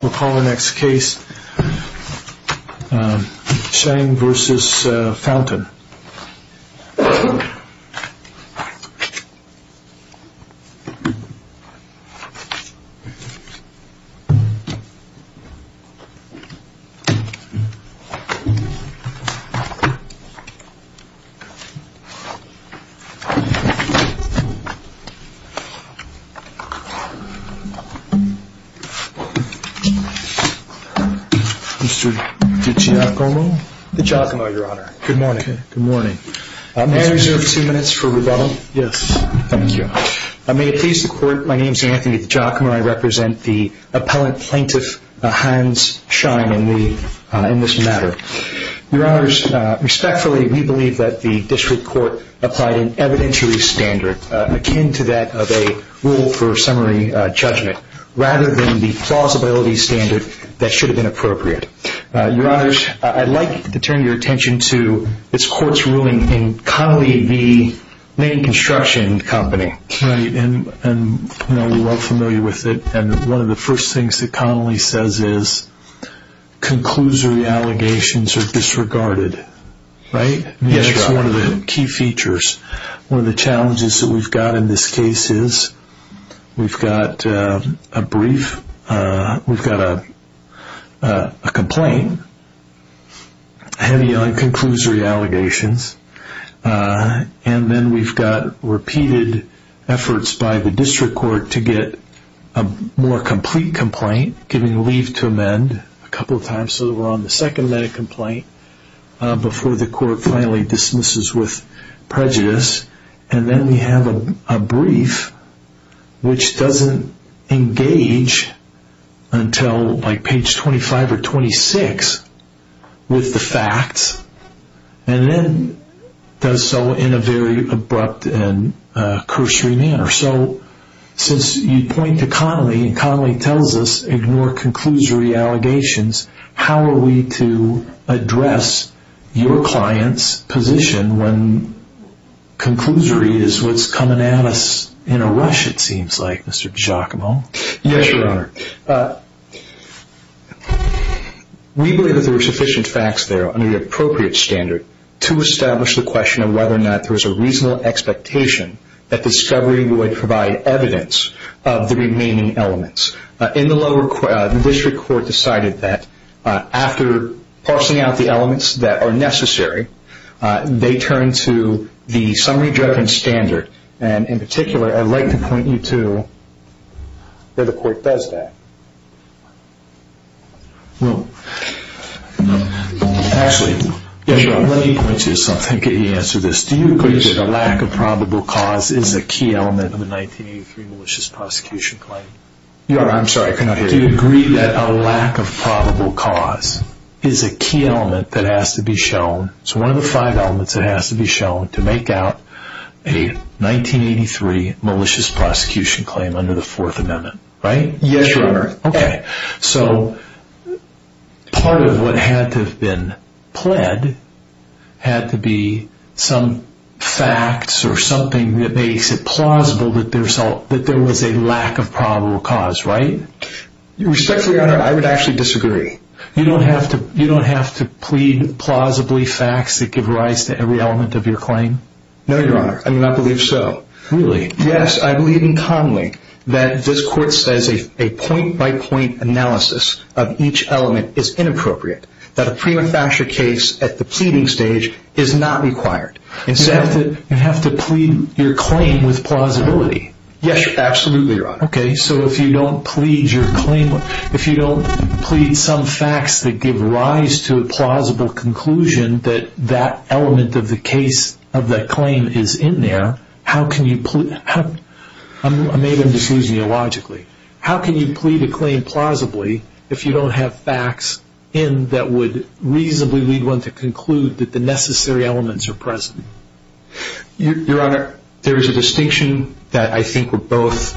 We'll call the next case Scheing v. Fountain Mr. DiGiacomo? DiGiacomo, Your Honor. Good morning. May I reserve two minutes for rebuttal? Yes. Thank you. May it please the Court, my name is Anthony DiGiacomo. I represent the Appellant Plaintiff Hans Scheing in this matter. Your Honors, respectfully, we believe that the District Court applied an evidentiary standard akin to that of a rule for summary judgment. Rather than the plausibility standard that should have been appropriate. Your Honors, I'd like to turn your attention to this Court's ruling in Connolly v. Main Construction Company. Right, and we're all familiar with it. And one of the first things that Connolly says is, Conclusory allegations are disregarded. Right? That's one of the key features. One of the challenges that we've got in this case is, we've got a brief, we've got a complaint, heavy on conclusory allegations. And then we've got repeated efforts by the District Court to get a more complete complaint, giving leave to amend a couple of times so that we're on the second minute complaint, before the Court finally dismisses with prejudice. And then we have a brief, which doesn't engage until like page 25 or 26 with the facts, and then does so in a very abrupt and cursory manner. So, since you point to Connolly, and Connolly tells us, ignore conclusory allegations, how are we to address your client's position when conclusory is what's coming at us in a rush, it seems like, Mr. Giacomo? Yes, Your Honor. We believe that there are sufficient facts there under the appropriate standard to establish the question of whether or not there was a reasonable expectation that discovery would provide evidence of the remaining elements. In the lower court, the District Court decided that, after parsing out the elements that are necessary, they turn to the summary judgment standard. And in particular, I'd like to point you to where the Court does that. Well, actually, let me point you to something to answer this. Do you agree that a lack of probable cause is a key element of a 1983 malicious prosecution claim? Your Honor, I'm sorry, I cannot hear you. Do you agree that a lack of probable cause is a key element that has to be shown, it's one of the five elements that has to be shown, to make out a 1983 malicious prosecution claim under the Fourth Amendment, right? Yes, Your Honor. Okay, so part of what had to have been pled had to be some facts or something that makes it plausible that there was a lack of probable cause, right? Respectfully, Your Honor, I would actually disagree. You don't have to plead plausibly facts that give rise to every element of your claim? No, Your Honor, I do not believe so. Really? Yes, I believe in commonly that this Court says a point-by-point analysis of each element is inappropriate, that a prima facie case at the pleading stage is not required. You have to plead your claim with plausibility. Yes, absolutely, Your Honor. Okay, so if you don't plead some facts that give rise to a plausible conclusion that that element of the claim is in there, how can you plead a claim plausibly if you don't have facts in that would reasonably lead one to conclude that the necessary elements are present? Your Honor, there is a distinction that I think we're both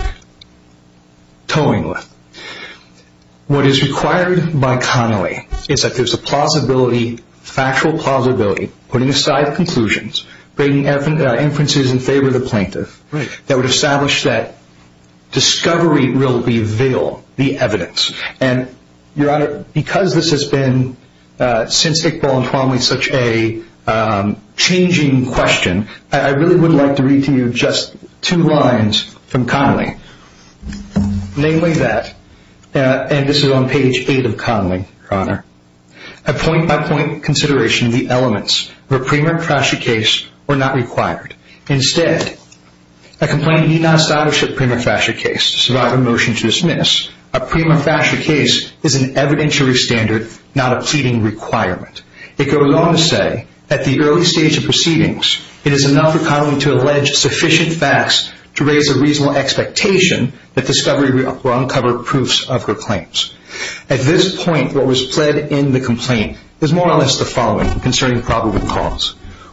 towing with. What is required by Connolly is that there's a plausibility, factual plausibility, putting aside conclusions, bringing inferences in favor of the plaintiff, that would establish that discovery will reveal the evidence. And, Your Honor, because this has been, since Iqbal and Twanley, such a changing question, I really would like to read to you just two lines from Connolly. Namely that, and this is on page 8 of Connolly, Your Honor, a point-by-point consideration of the elements of a prima facie case were not required. Instead, a complaint need not establish a prima facie case to survive a motion to dismiss. A prima facie case is an evidentiary standard, not a pleading requirement. It goes on to say, at the early stage of proceedings, it is enough for Connolly to allege sufficient facts to raise a reasonable expectation that discovery will uncover proofs of her claims. At this point, what was pled in the complaint is more or less the following concerning probable cause.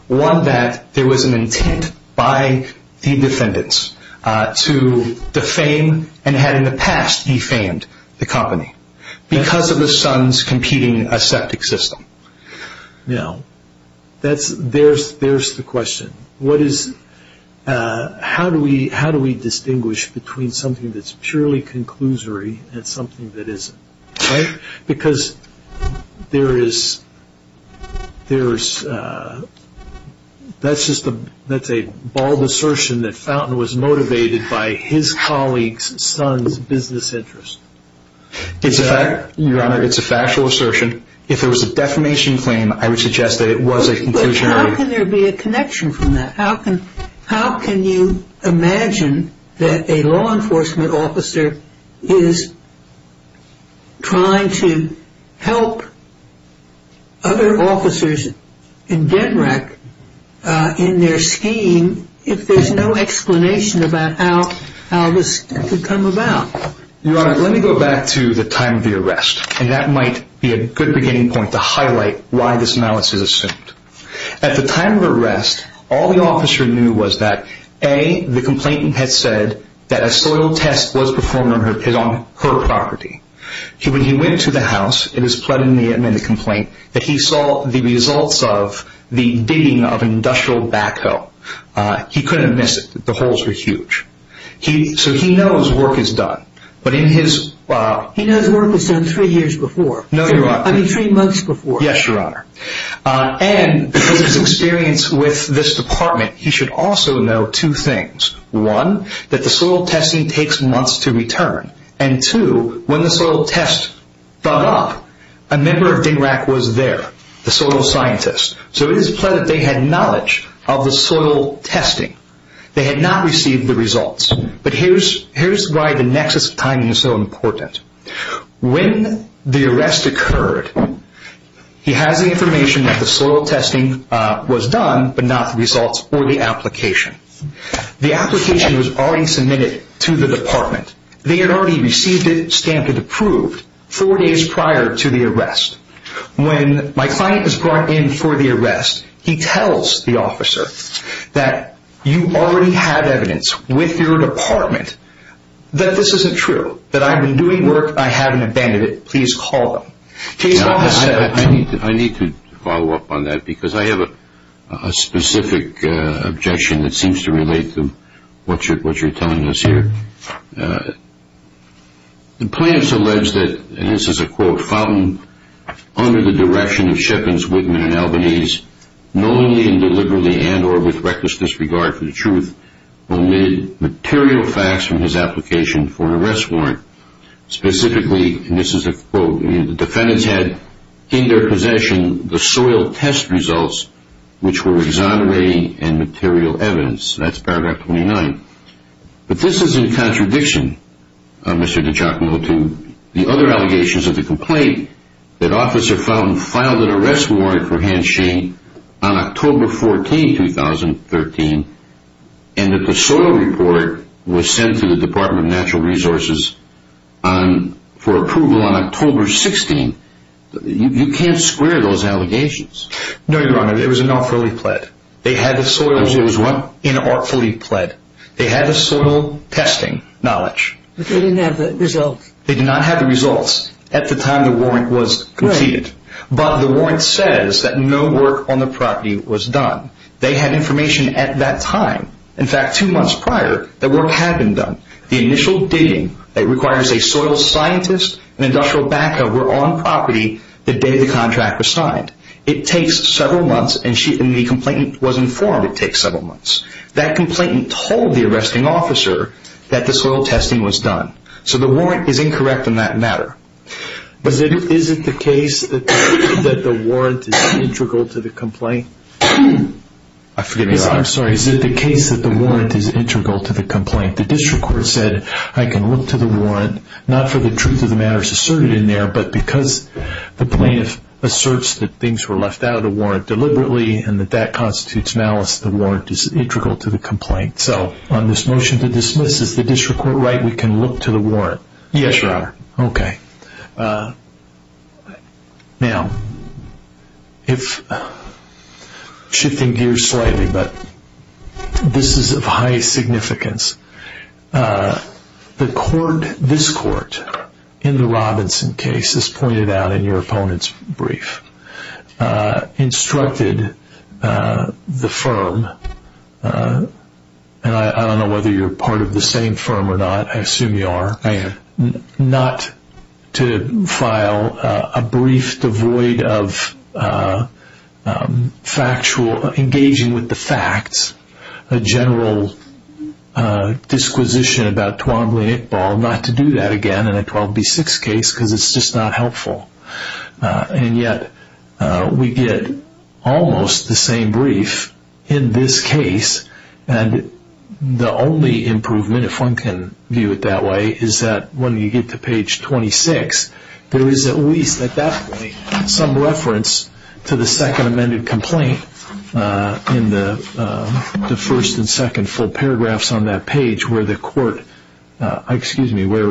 One, that there was an intent by the defendants to defame and had in the past defamed the company because of the son's competing aseptic system. Now, there's the question. How do we distinguish between something that's purely conclusory and something that isn't? Because that's a bald assertion that Fountain was motivated by his colleague's son's business interest. It's a factual assertion. If there was a defamation claim, I would suggest that it was a conclusionary. But how can there be a connection from that? How can you imagine that a law enforcement officer is trying to help other officers in debt rack in their scheme if there's no explanation about how this could come about? Your Honor, let me go back to the time of the arrest. And that might be a good beginning point to highlight why this malice is assumed. At the time of arrest, all the officer knew was that, A, the complainant had said that a soil test was performed on her property. When he went to the house, it was pled in the amended complaint that he saw the results of the digging of an industrial backhoe. He couldn't have missed it. The holes were huge. So he knows work is done. He knows work was done three years before. No, Your Honor. I mean, three months before. Yes, Your Honor. And because of his experience with this department, he should also know two things. One, that the soil testing takes months to return. And two, when the soil test thawed up, a member of dig rack was there, the soil scientist. So it is pled that they had knowledge of the soil testing. They had not received the results. But here's why the nexus of timing is so important. When the arrest occurred, he has the information that the soil testing was done, but not the results or the application. The application was already submitted to the department. They had already received it, stamped it, approved four days prior to the arrest. When my client is brought in for the arrest, he tells the officer that you already have evidence with your department that this isn't true, that I've been doing work, I haven't abandoned it. Please call them. I need to follow up on that because I have a specific objection that seems to relate to what you're telling us here. The plaintiffs allege that, and this is a quote, Fountain, under the direction of Shippens, Whitman, and Albanese, knowingly and deliberately and or with reckless disregard for the truth, omitted material facts from his application for an arrest warrant. Specifically, and this is a quote, the defendants had in their possession the soil test results, which were exonerating and material evidence. That's paragraph 29. But this is in contradiction, Mr. DiGiacomo, to the other allegations of the complaint that Officer Fountain filed an arrest warrant for Hans Shane on October 14, 2013, and that the soil report was sent to the Department of Natural Resources for approval on October 16. You can't square those allegations. No, Your Honor. It was an awfully pled. They had the soil. It was what? They had the soil testing knowledge. But they didn't have the results. They did not have the results. At the time, the warrant was defeated. But the warrant says that no work on the property was done. They had information at that time. In fact, two months prior, the work had been done. The initial dating that requires a soil scientist and industrial backup were on property the day the contract was signed. It takes several months, and the complainant was informed it takes several months. That complainant told the arresting officer that the soil testing was done. So the warrant is incorrect in that matter. But is it the case that the warrant is integral to the complaint? I forget. I'm sorry. Is it the case that the warrant is integral to the complaint? The district court said, I can look to the warrant, not for the truth of the matters asserted in there, but because the plaintiff asserts that things were left out of the warrant deliberately and that that constitutes malice, the warrant is integral to the complaint. So on this motion to dismiss, is the district court right we can look to the warrant? Yes, Your Honor. Okay. Now, shifting gears slightly, but this is of high significance. The court, this court, in the Robinson case, as pointed out in your opponent's brief, instructed the firm, and I don't know whether you're part of the same firm or not, I assume you are. I am. not to file a brief devoid of engaging with the facts, a general disquisition about Twombly-Nickball, not to do that again in a 12B6 case because it's just not helpful. And yet we get almost the same brief in this case, and the only improvement, if one can view it that way, is that when you get to page 26, there is at least at that point some reference to the second amended complaint in the first and second full paragraphs on that page where the court, excuse me, where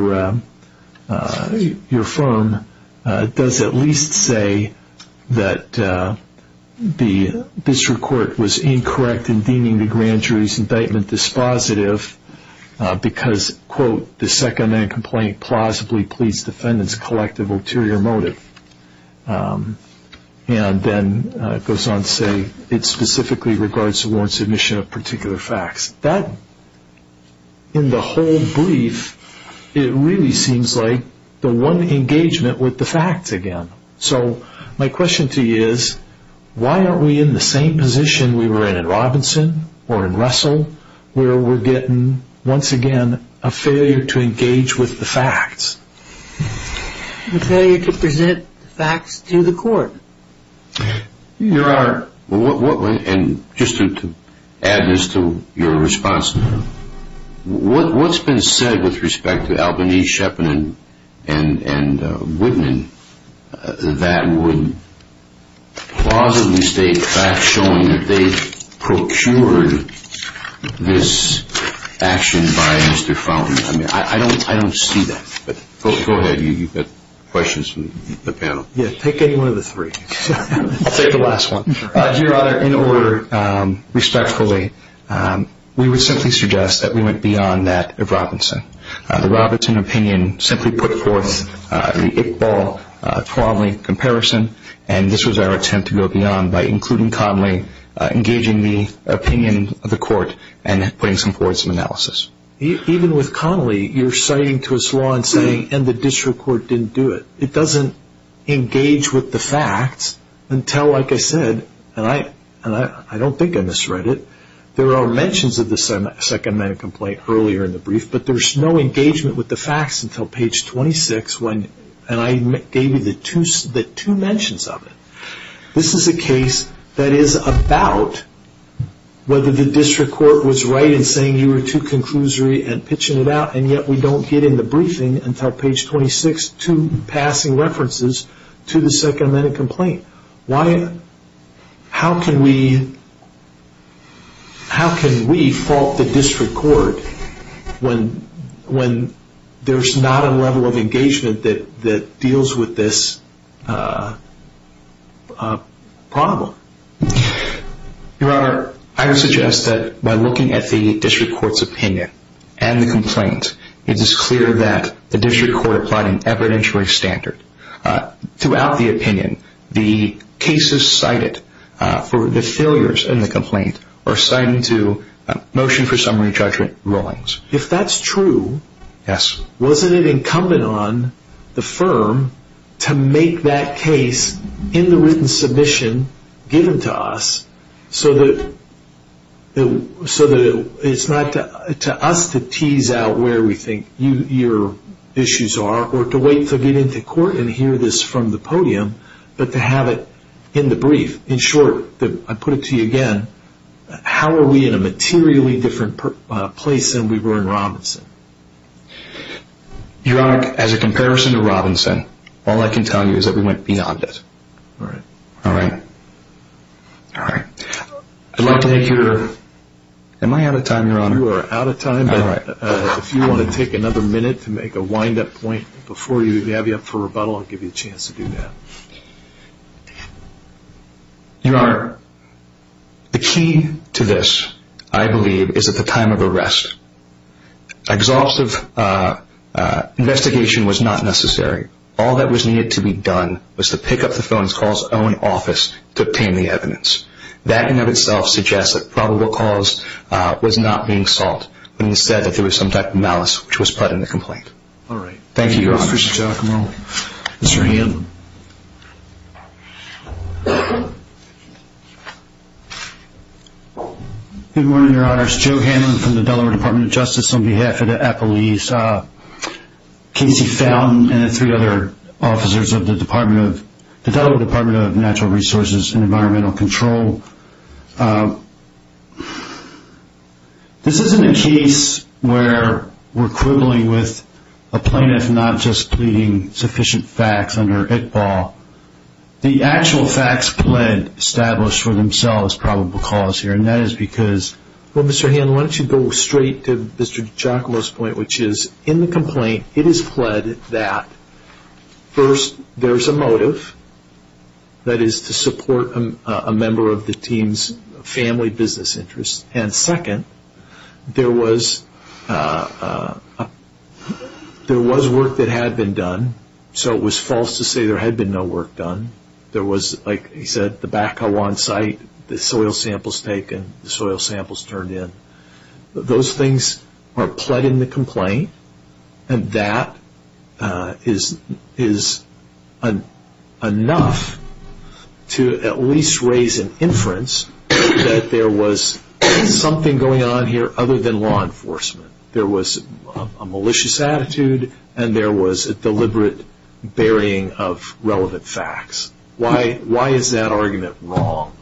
your firm does at least say that the district court was incorrect in deeming the grand jury's indictment dispositive because, quote, the second amended complaint plausibly pleads defendant's collective ulterior motive. And then it goes on to say it specifically regards the warrant submission of particular facts. That, in the whole brief, it really seems like the one engagement with the facts again. So my question to you is, why aren't we in the same position we were in in Robinson or in Russell where we're getting, once again, a failure to engage with the facts? A failure to present facts to the court. Your Honor, and just to add this to your response, what's been said with respect to Albany, Shepparton, and Woodman that would plausibly state facts showing that they procured this action by Mr. Fountain? I mean, I don't see that. Go ahead. You've got questions from the panel. Yeah, take any one of the three. I'll take the last one. Your Honor, in order, respectfully, we would simply suggest that we went beyond that of Robinson. The Robinson opinion simply put forth the Iqbal-Connolly comparison, and this was our attempt to go beyond by including Connolly, engaging the opinion of the court, and putting forward some analysis. Even with Connolly, you're citing to his law and saying, and the district court didn't do it. It doesn't engage with the facts until, like I said, and I don't think I misread it, there are mentions of the second-minute complaint earlier in the brief, but there's no engagement with the facts until page 26, and I gave you the two mentions of it. This is a case that is about whether the district court was right in saying you were too conclusory and pitching it out, and yet we don't get in the briefing until page 26, two passing references to the second-minute complaint. How can we fault the district court when there's not a level of engagement that deals with this problem? Your Honor, I would suggest that by looking at the district court's opinion and the complaint, it is clear that the district court applied an evidentiary standard. Throughout the opinion, the cases cited for the failures in the complaint are cited to motion for summary judgment rulings. If that's true, wasn't it incumbent on the firm to make that case in the written submission given to us so that it's not to us to tease out where we think your issues are or to wait to get into court and hear this from the podium, but to have it in the brief? In short, I put it to you again, how are we in a materially different place than we were in Robinson? Your Honor, as a comparison to Robinson, all I can tell you is that we went beyond it. All right. I'd like to make your... Am I out of time, Your Honor? You are out of time, but if you want to take another minute to make a wind-up point before we have you up for rebuttal, I'll give you a chance to do that. Your Honor, the key to this, I believe, is at the time of arrest. Exhaustive investigation was not necessary. All that was needed to be done was to pick up the phone and call his own office to obtain the evidence. That, in and of itself, suggests that probable cause was not being solved when he said that there was some type of malice which was put in the complaint. All right. Thank you, Your Honor. Thank you, Mr. Giacomo. Mr. Hamlin. Good morning, Your Honor. My name is Joe Hamlin from the Delaware Department of Justice on behalf of the police, Casey Fountain, and the three other officers of the Delaware Department of Natural Resources and Environmental Control. This isn't a case where we're quibbling with a plaintiff not just pleading sufficient facts under ICPAW. The actual facts pled established for themselves probable cause here, Well, Mr. Hamlin, why don't you go straight to Mr. Giacomo's point, which is, in the complaint it is pled that, first, there is a motive, that is to support a member of the team's family business interests, and, second, there was work that had been done, so it was false to say there had been no work done. There was, like he said, the Bakawan site, the soil samples taken, the soil samples turned in. Those things are pled in the complaint, and that is enough to at least raise an inference that there was something going on here other than law enforcement. There was a malicious attitude, and there was a deliberate burying of relevant facts. Why is that argument wrong?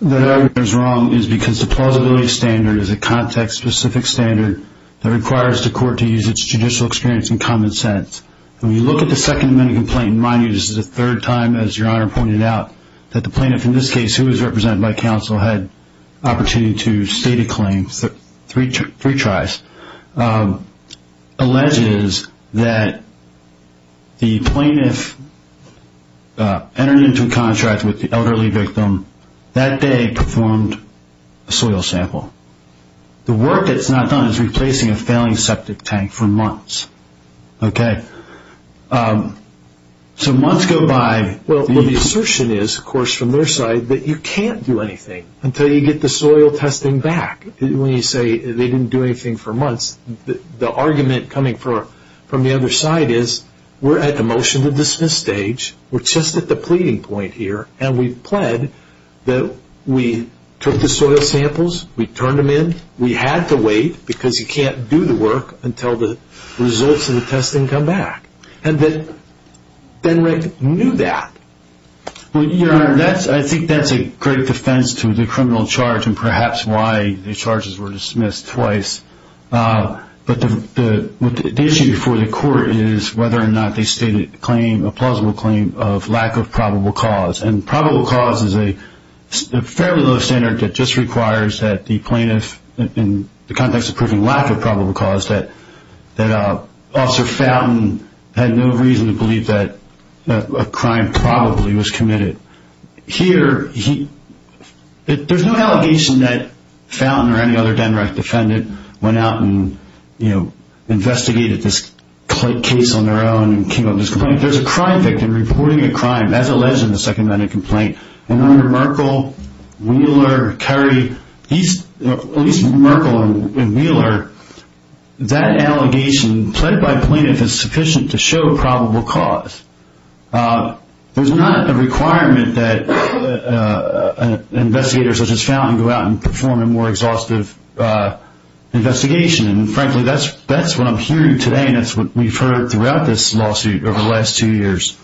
That argument is wrong because the plausibility standard is a context-specific standard that requires the court to use its judicial experience and common sense. When you look at the second amendment complaint, mind you this is the third time, as Your Honor pointed out, that the plaintiff in this case, who was represented by counsel, had opportunity to state a claim, three tries, alleges that the plaintiff entered into a contract with the elderly victim that day and performed a soil sample. The work that is not done is replacing a failing septic tank for months. So months go by. The assertion is, of course, from their side that you can't do anything until you get the soil testing back. When you say they didn't do anything for months, the argument coming from the other side is we're at the motion to dismiss stage, we're just at the pleading point here, and we pled that we took the soil samples, we turned them in, we had to wait because you can't do the work until the results of the testing come back. Ben Rick knew that. Your Honor, I think that's a great defense to the criminal charge and perhaps why the charges were dismissed twice. But the issue before the court is whether or not they stated a plausible claim of lack of probable cause. And probable cause is a fairly low standard that just requires that the plaintiff, in the context of proving lack of probable cause, that Officer Fountain had no reason to believe that a crime probably was committed. Here, there's no allegation that Fountain or any other DENREC defendant went out and investigated this case on their own and came up with this complaint. There's a crime victim reporting a crime as alleged in the second minute complaint. And under Merkle, Wheeler, Curry, at least Merkle and Wheeler, that allegation, pled by plaintiff, is sufficient to show probable cause. There's not a requirement that an investigator such as Fountain go out and perform a more exhaustive investigation. And, frankly, that's what I'm hearing today, and that's what we've heard throughout this lawsuit over the last two years,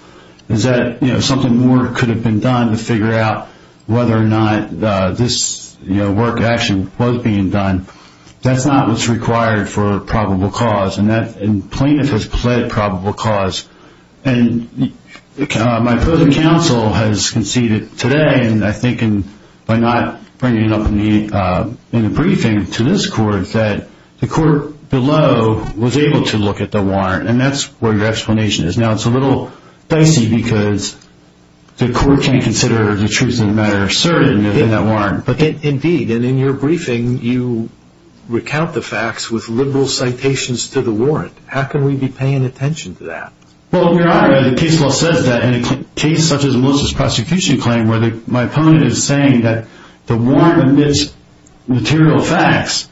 is that something more could have been done to figure out whether or not this work, action was being done. That's not what's required for probable cause, and plaintiff has pled probable cause. And my further counsel has conceded today, and I think by not bringing it up in the briefing to this court, that the court below was able to look at the warrant. And that's where your explanation is. Now, it's a little dicey because the court can't consider the truth of the matter certain in that warrant. Indeed, and in your briefing, you recount the facts with liberal citations to the warrant. How can we be paying attention to that? Well, Your Honor, the case law says that in a case such as Melissa's prosecution claim, where my opponent is saying that the warrant omits material facts,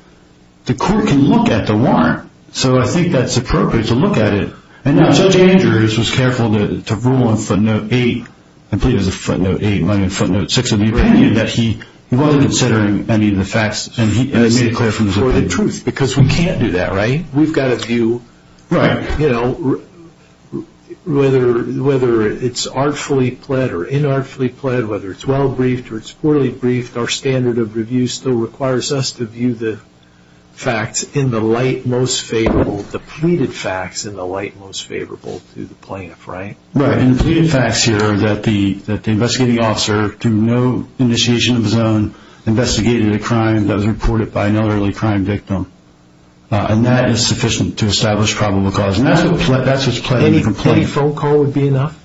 the court can look at the warrant. So I think that's appropriate to look at it. And Judge Andrews was careful to rule on footnote 8, I believe it was footnote 8, footnote 6 of the opinion, that he wasn't considering any of the facts, and he made it clear from his opinion. For the truth, because we can't do that, right? We've got to view, you know, whether it's artfully pled or inartfully pled, whether it's well briefed or it's poorly briefed, our standard of review still requires us to view the facts in the light most favorable, the pleaded facts in the light most favorable to the plaintiff, right? Right, and the pleaded facts here are that the investigating officer, through no initiation of his own, investigated a crime that was reported by an elderly crime victim, and that is sufficient to establish probable cause. And that's what's pled in the complaint. Any phone call would be enough?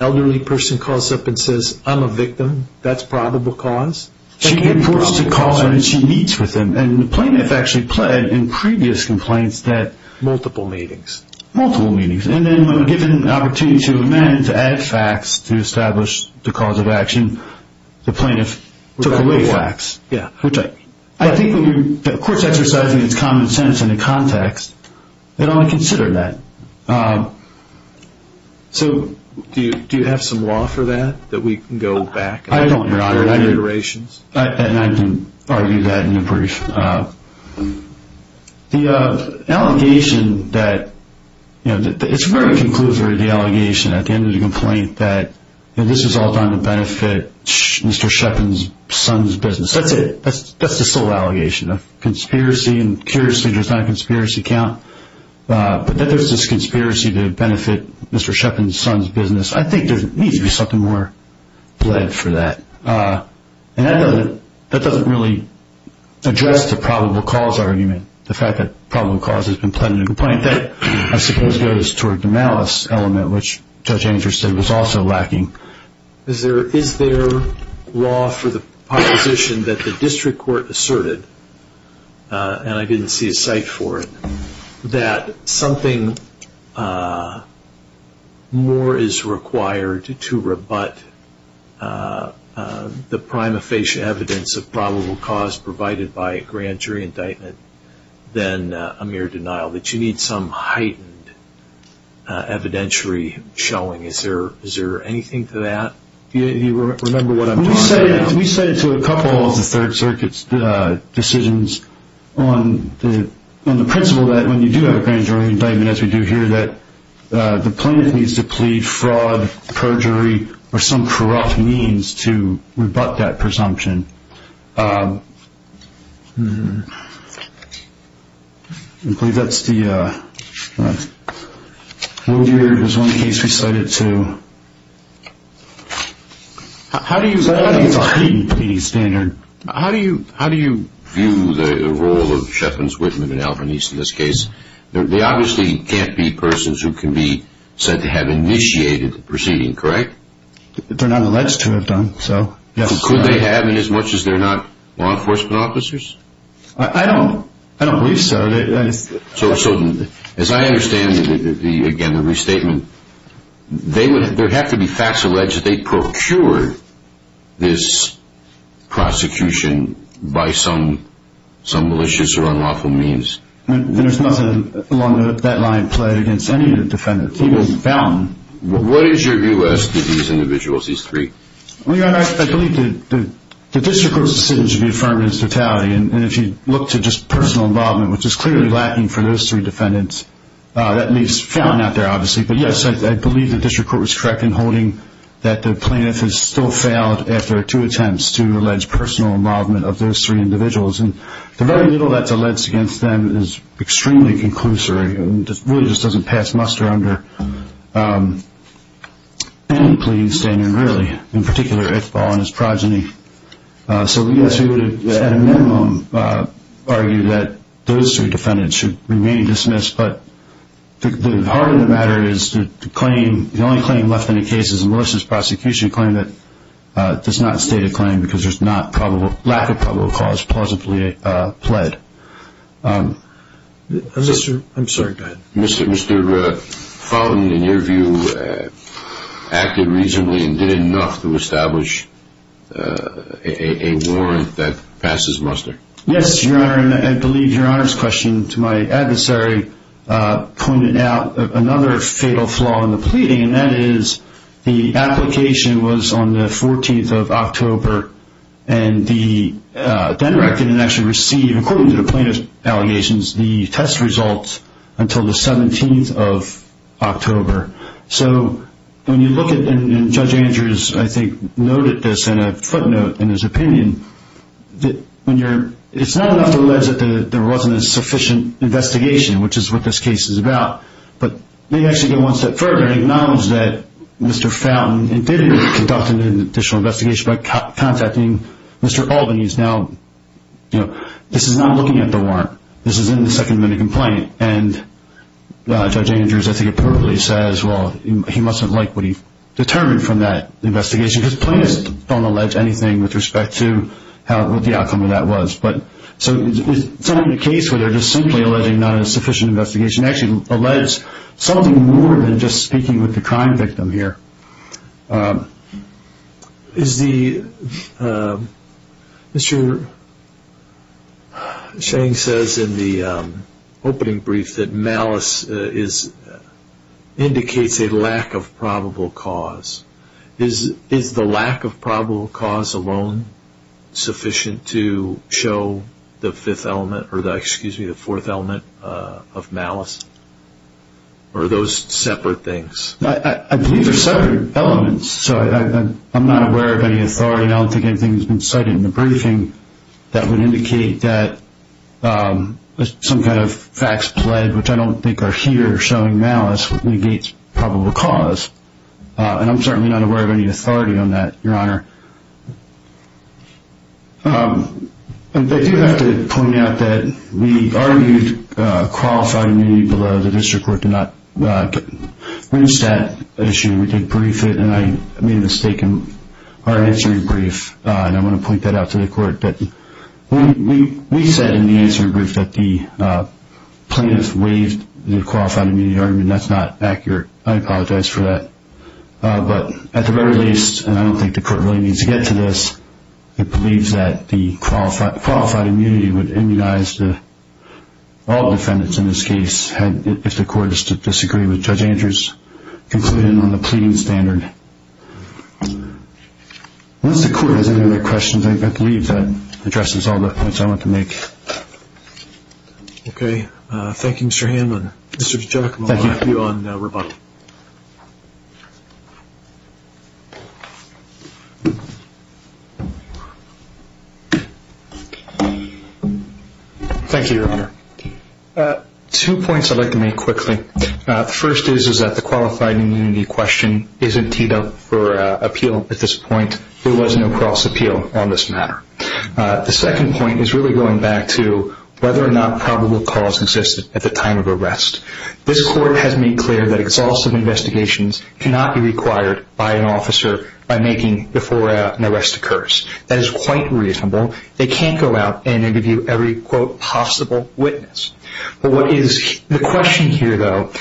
Elderly person calls up and says, I'm a victim, that's probable cause? She can't be forced to call him and she meets with him. And the plaintiff actually pled in previous complaints that- Multiple meetings. Multiple meetings, and then when given an opportunity to amend, to add facts, to establish the cause of action, the plaintiff took away facts. Yeah. Which I think when you're, of course, exercising its common sense in the context, it ought to consider that. So do you have some law for that, that we can go back- I don't, Your Honor. And I can argue that in a brief. The allegation that, you know, it's very conclusive, the allegation, at the end of the complaint, that this is all done to benefit Mr. Sheppard's son's business. That's it. That's the sole allegation. A conspiracy, and curiously there's not a conspiracy count, but that there's this conspiracy to benefit Mr. Sheppard's son's business, I think there needs to be something more pled for that. And that doesn't really address the probable cause argument, the fact that probable cause has been pled in a complaint that I suppose goes toward the malice element, which Judge Anger said was also lacking. Is there law for the proposition that the district court asserted, and I didn't see a cite for it, that something more is required to rebut the prima facie evidence of probable cause provided by a grand jury indictment than a mere denial, that you need some heightened evidentiary showing? Is there anything to that? Do you remember what I'm talking about? We cited to a couple of the Third Circuit's decisions on the principle that when you do have a grand jury indictment, as we do here, that the plaintiff needs to plead fraud, perjury, or some corrupt means to rebut that presumption. I believe that's the one case we cited to. How do you view the role of Sheffens, Whitman, and Alvanese in this case? They obviously can't be persons who can be said to have initiated the proceeding, correct? They're not alleged to have done so. Could they have inasmuch as they're not law enforcement officers? I don't believe so. As I understand, again, the restatement, there have to be facts alleged that they procured this prosecution by some malicious or unlawful means. There's nothing along that line of play against any of the defendants. He was found. What is your view as to these individuals, these three? I believe the district court's decision should be affirmed as totality, and if you look to just personal involvement, which is clearly lacking for those three defendants, that means found out there, obviously. But, yes, I believe the district court was correct in holding that the plaintiff has still failed after two attempts to allege personal involvement of those three individuals. The very little that's alleged against them is extremely conclusory and really just doesn't pass muster under any pleading standard, really, in particular, if all in his progeny. So, yes, we would, at a minimum, argue that those three defendants should remain dismissed, but the heart of the matter is the claim, the only claim left in the case is Melissa's prosecution claim that does not state a claim because there's not lack of probable cause plausibly pled. I'm sorry. Go ahead. Mr. Fountain, in your view, acted reasonably and did enough to establish a warrant that passes muster? Yes, Your Honor, and I believe Your Honor's question to my adversary pointed out another fatal flaw in the pleading, and that is the application was on the 14th of October, and the defendant didn't actually receive, according to the plaintiff's allegations, the test results until the 17th of October. So when you look at, and Judge Andrews, I think, noted this in a footnote in his opinion, it's not enough to allege that there wasn't a sufficient investigation, which is what this case is about, but maybe actually go one step further and acknowledge that Mr. Fountain did conduct an additional investigation by contacting Mr. Albany. He's now, you know, this is not looking at the warrant. This is in the Second Amendment complaint, and Judge Andrews, I think, appropriately says, well, he mustn't like what he determined from that investigation because plaintiffs don't allege anything with respect to what the outcome of that was. So it's not a case where they're just simply alleging not a sufficient investigation. It actually alleges something more than just speaking with the crime victim here. Mr. Sheng says in the opening brief that malice indicates a lack of probable cause. Is the lack of probable cause alone sufficient to show the fourth element of malice, or those separate things? I believe they're separate elements. I'm not aware of any authority, and I don't think anything has been cited in the briefing, that would indicate that some kind of facts pled, which I don't think are here, showing malice negates probable cause. And I'm certainly not aware of any authority on that, Your Honor. I do have to point out that we argued qualified immunity below the district court did not reach that issue. We did brief it, and I made a mistake in our answering brief, and I want to point that out to the court. We said in the answering brief that the plaintiff waived the qualified immunity argument. That's not accurate. I apologize for that. But at the very least, and I don't think the court really needs to get to this, it believes that the qualified immunity would immunize all defendants in this case if the court is to disagree with Judge Andrews' conclusion on the pleading standard. Unless the court has any other questions, I believe that addresses all the points I want to make. Okay. Thank you, Mr. Hanlon. Mr. DiGiacomo, I'll leave you on rebuttal. Thank you, Your Honor. Two points I'd like to make quickly. The first is that the qualified immunity question isn't teed up for appeal at this point. There was no cross-appeal on this matter. The second point is really going back to whether or not probable cause existed at the time of arrest. This court has made clear that exhaustive investigations cannot be required by an officer by making before an arrest occurs. That is quite reasonable. They can't go out and interview every, quote, possible witness. The question here, though,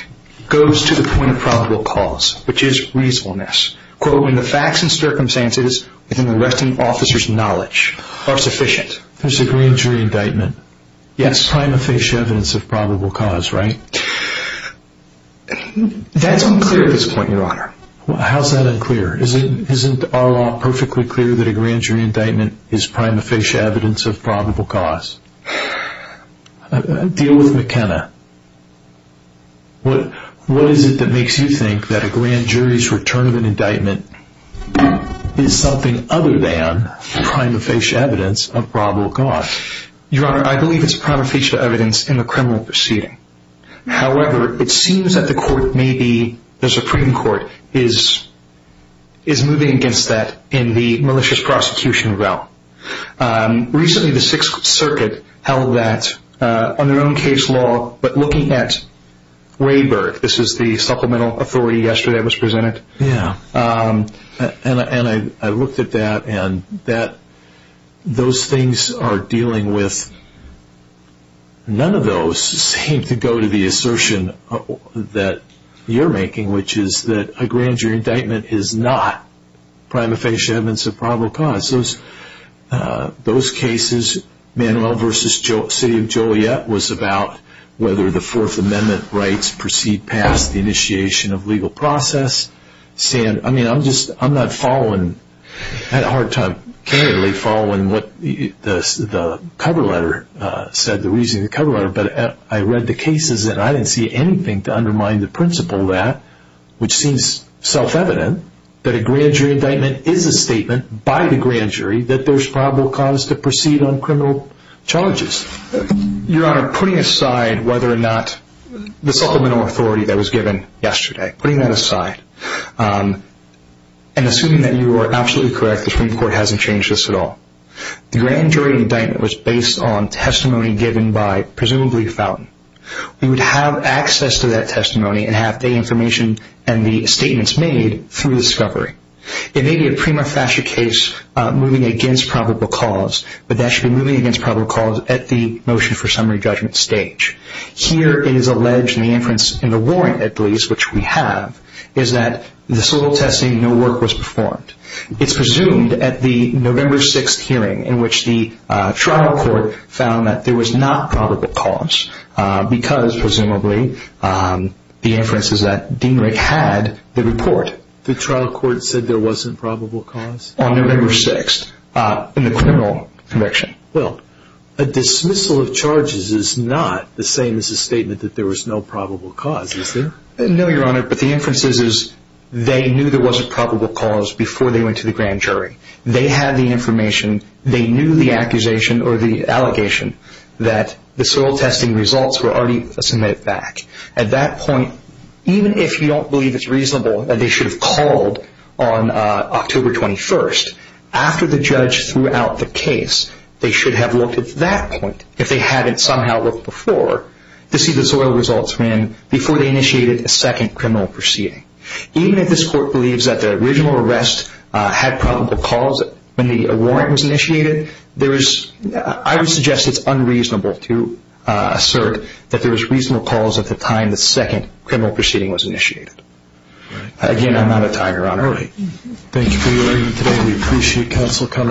goes to the point of probable cause, which is reasonableness. Quote, when the facts and circumstances within the arresting officer's knowledge are sufficient. There's a grand jury indictment. Yes. Prima facie evidence of probable cause, right? That's unclear at this point, Your Honor. How is that unclear? Isn't our law perfectly clear that a grand jury indictment is prima facie evidence of probable cause? Deal with McKenna. What is it that makes you think that a grand jury's return of an indictment is something other than prima facie evidence of probable cause? Your Honor, I believe it's prima facie evidence in the criminal proceeding. However, it seems that the Supreme Court is moving against that in the malicious prosecution realm. Recently, the Sixth Circuit held that on their own case law. But looking at Rayburg, this is the supplemental authority yesterday that was presented. Yeah. And I looked at that, and those things are dealing with none of those seem to go to the assertion that you're making, which is that a grand jury indictment is not prima facie evidence of probable cause. Those cases, Manuel v. City of Joliet, was about whether the Fourth Amendment rights proceed past the initiation of legal process. I mean, I'm not following. I had a hard time following what the cover letter said, the reasoning of the cover letter. But I read the cases, and I didn't see anything to undermine the principle of that, which seems self-evident, that a grand jury indictment is a statement by the grand jury that there's probable cause to proceed on criminal charges. Your Honor, putting aside whether or not the supplemental authority that was given yesterday, putting that aside, and assuming that you are absolutely correct, the Supreme Court hasn't changed this at all, the grand jury indictment was based on testimony given by presumably Fountain. We would have access to that testimony and have the information and the statements made through discovery. It may be a prima facie case moving against probable cause, but that should be moving against probable cause at the motion for summary judgment stage. Here, it is alleged in the inference in the warrant, at least, which we have, is that this little testimony, no work was performed. It's presumed at the November 6th hearing, in which the trial court found that there was not probable cause, because, presumably, the inference is that Dean Rick had the report. The trial court said there wasn't probable cause? On November 6th, in the criminal conviction. Well, a dismissal of charges is not the same as a statement that there was no probable cause, is there? No, Your Honor, but the inference is they knew there was a probable cause before they went to the grand jury. They had the information, they knew the accusation or the allegation that the soil testing results were already submitted back. At that point, even if you don't believe it's reasonable that they should have called on October 21st, after the judge threw out the case, they should have looked at that point, if they hadn't somehow looked before, to see the soil results before they initiated a second criminal proceeding. Even if this court believes that the original arrest had probable cause when the warrant was initiated, I would suggest it's unreasonable to assert that there was reasonable cause at the time the second criminal proceeding was initiated. Again, I'm out of time, Your Honor. Thank you for your argument today. We appreciate counsel coming.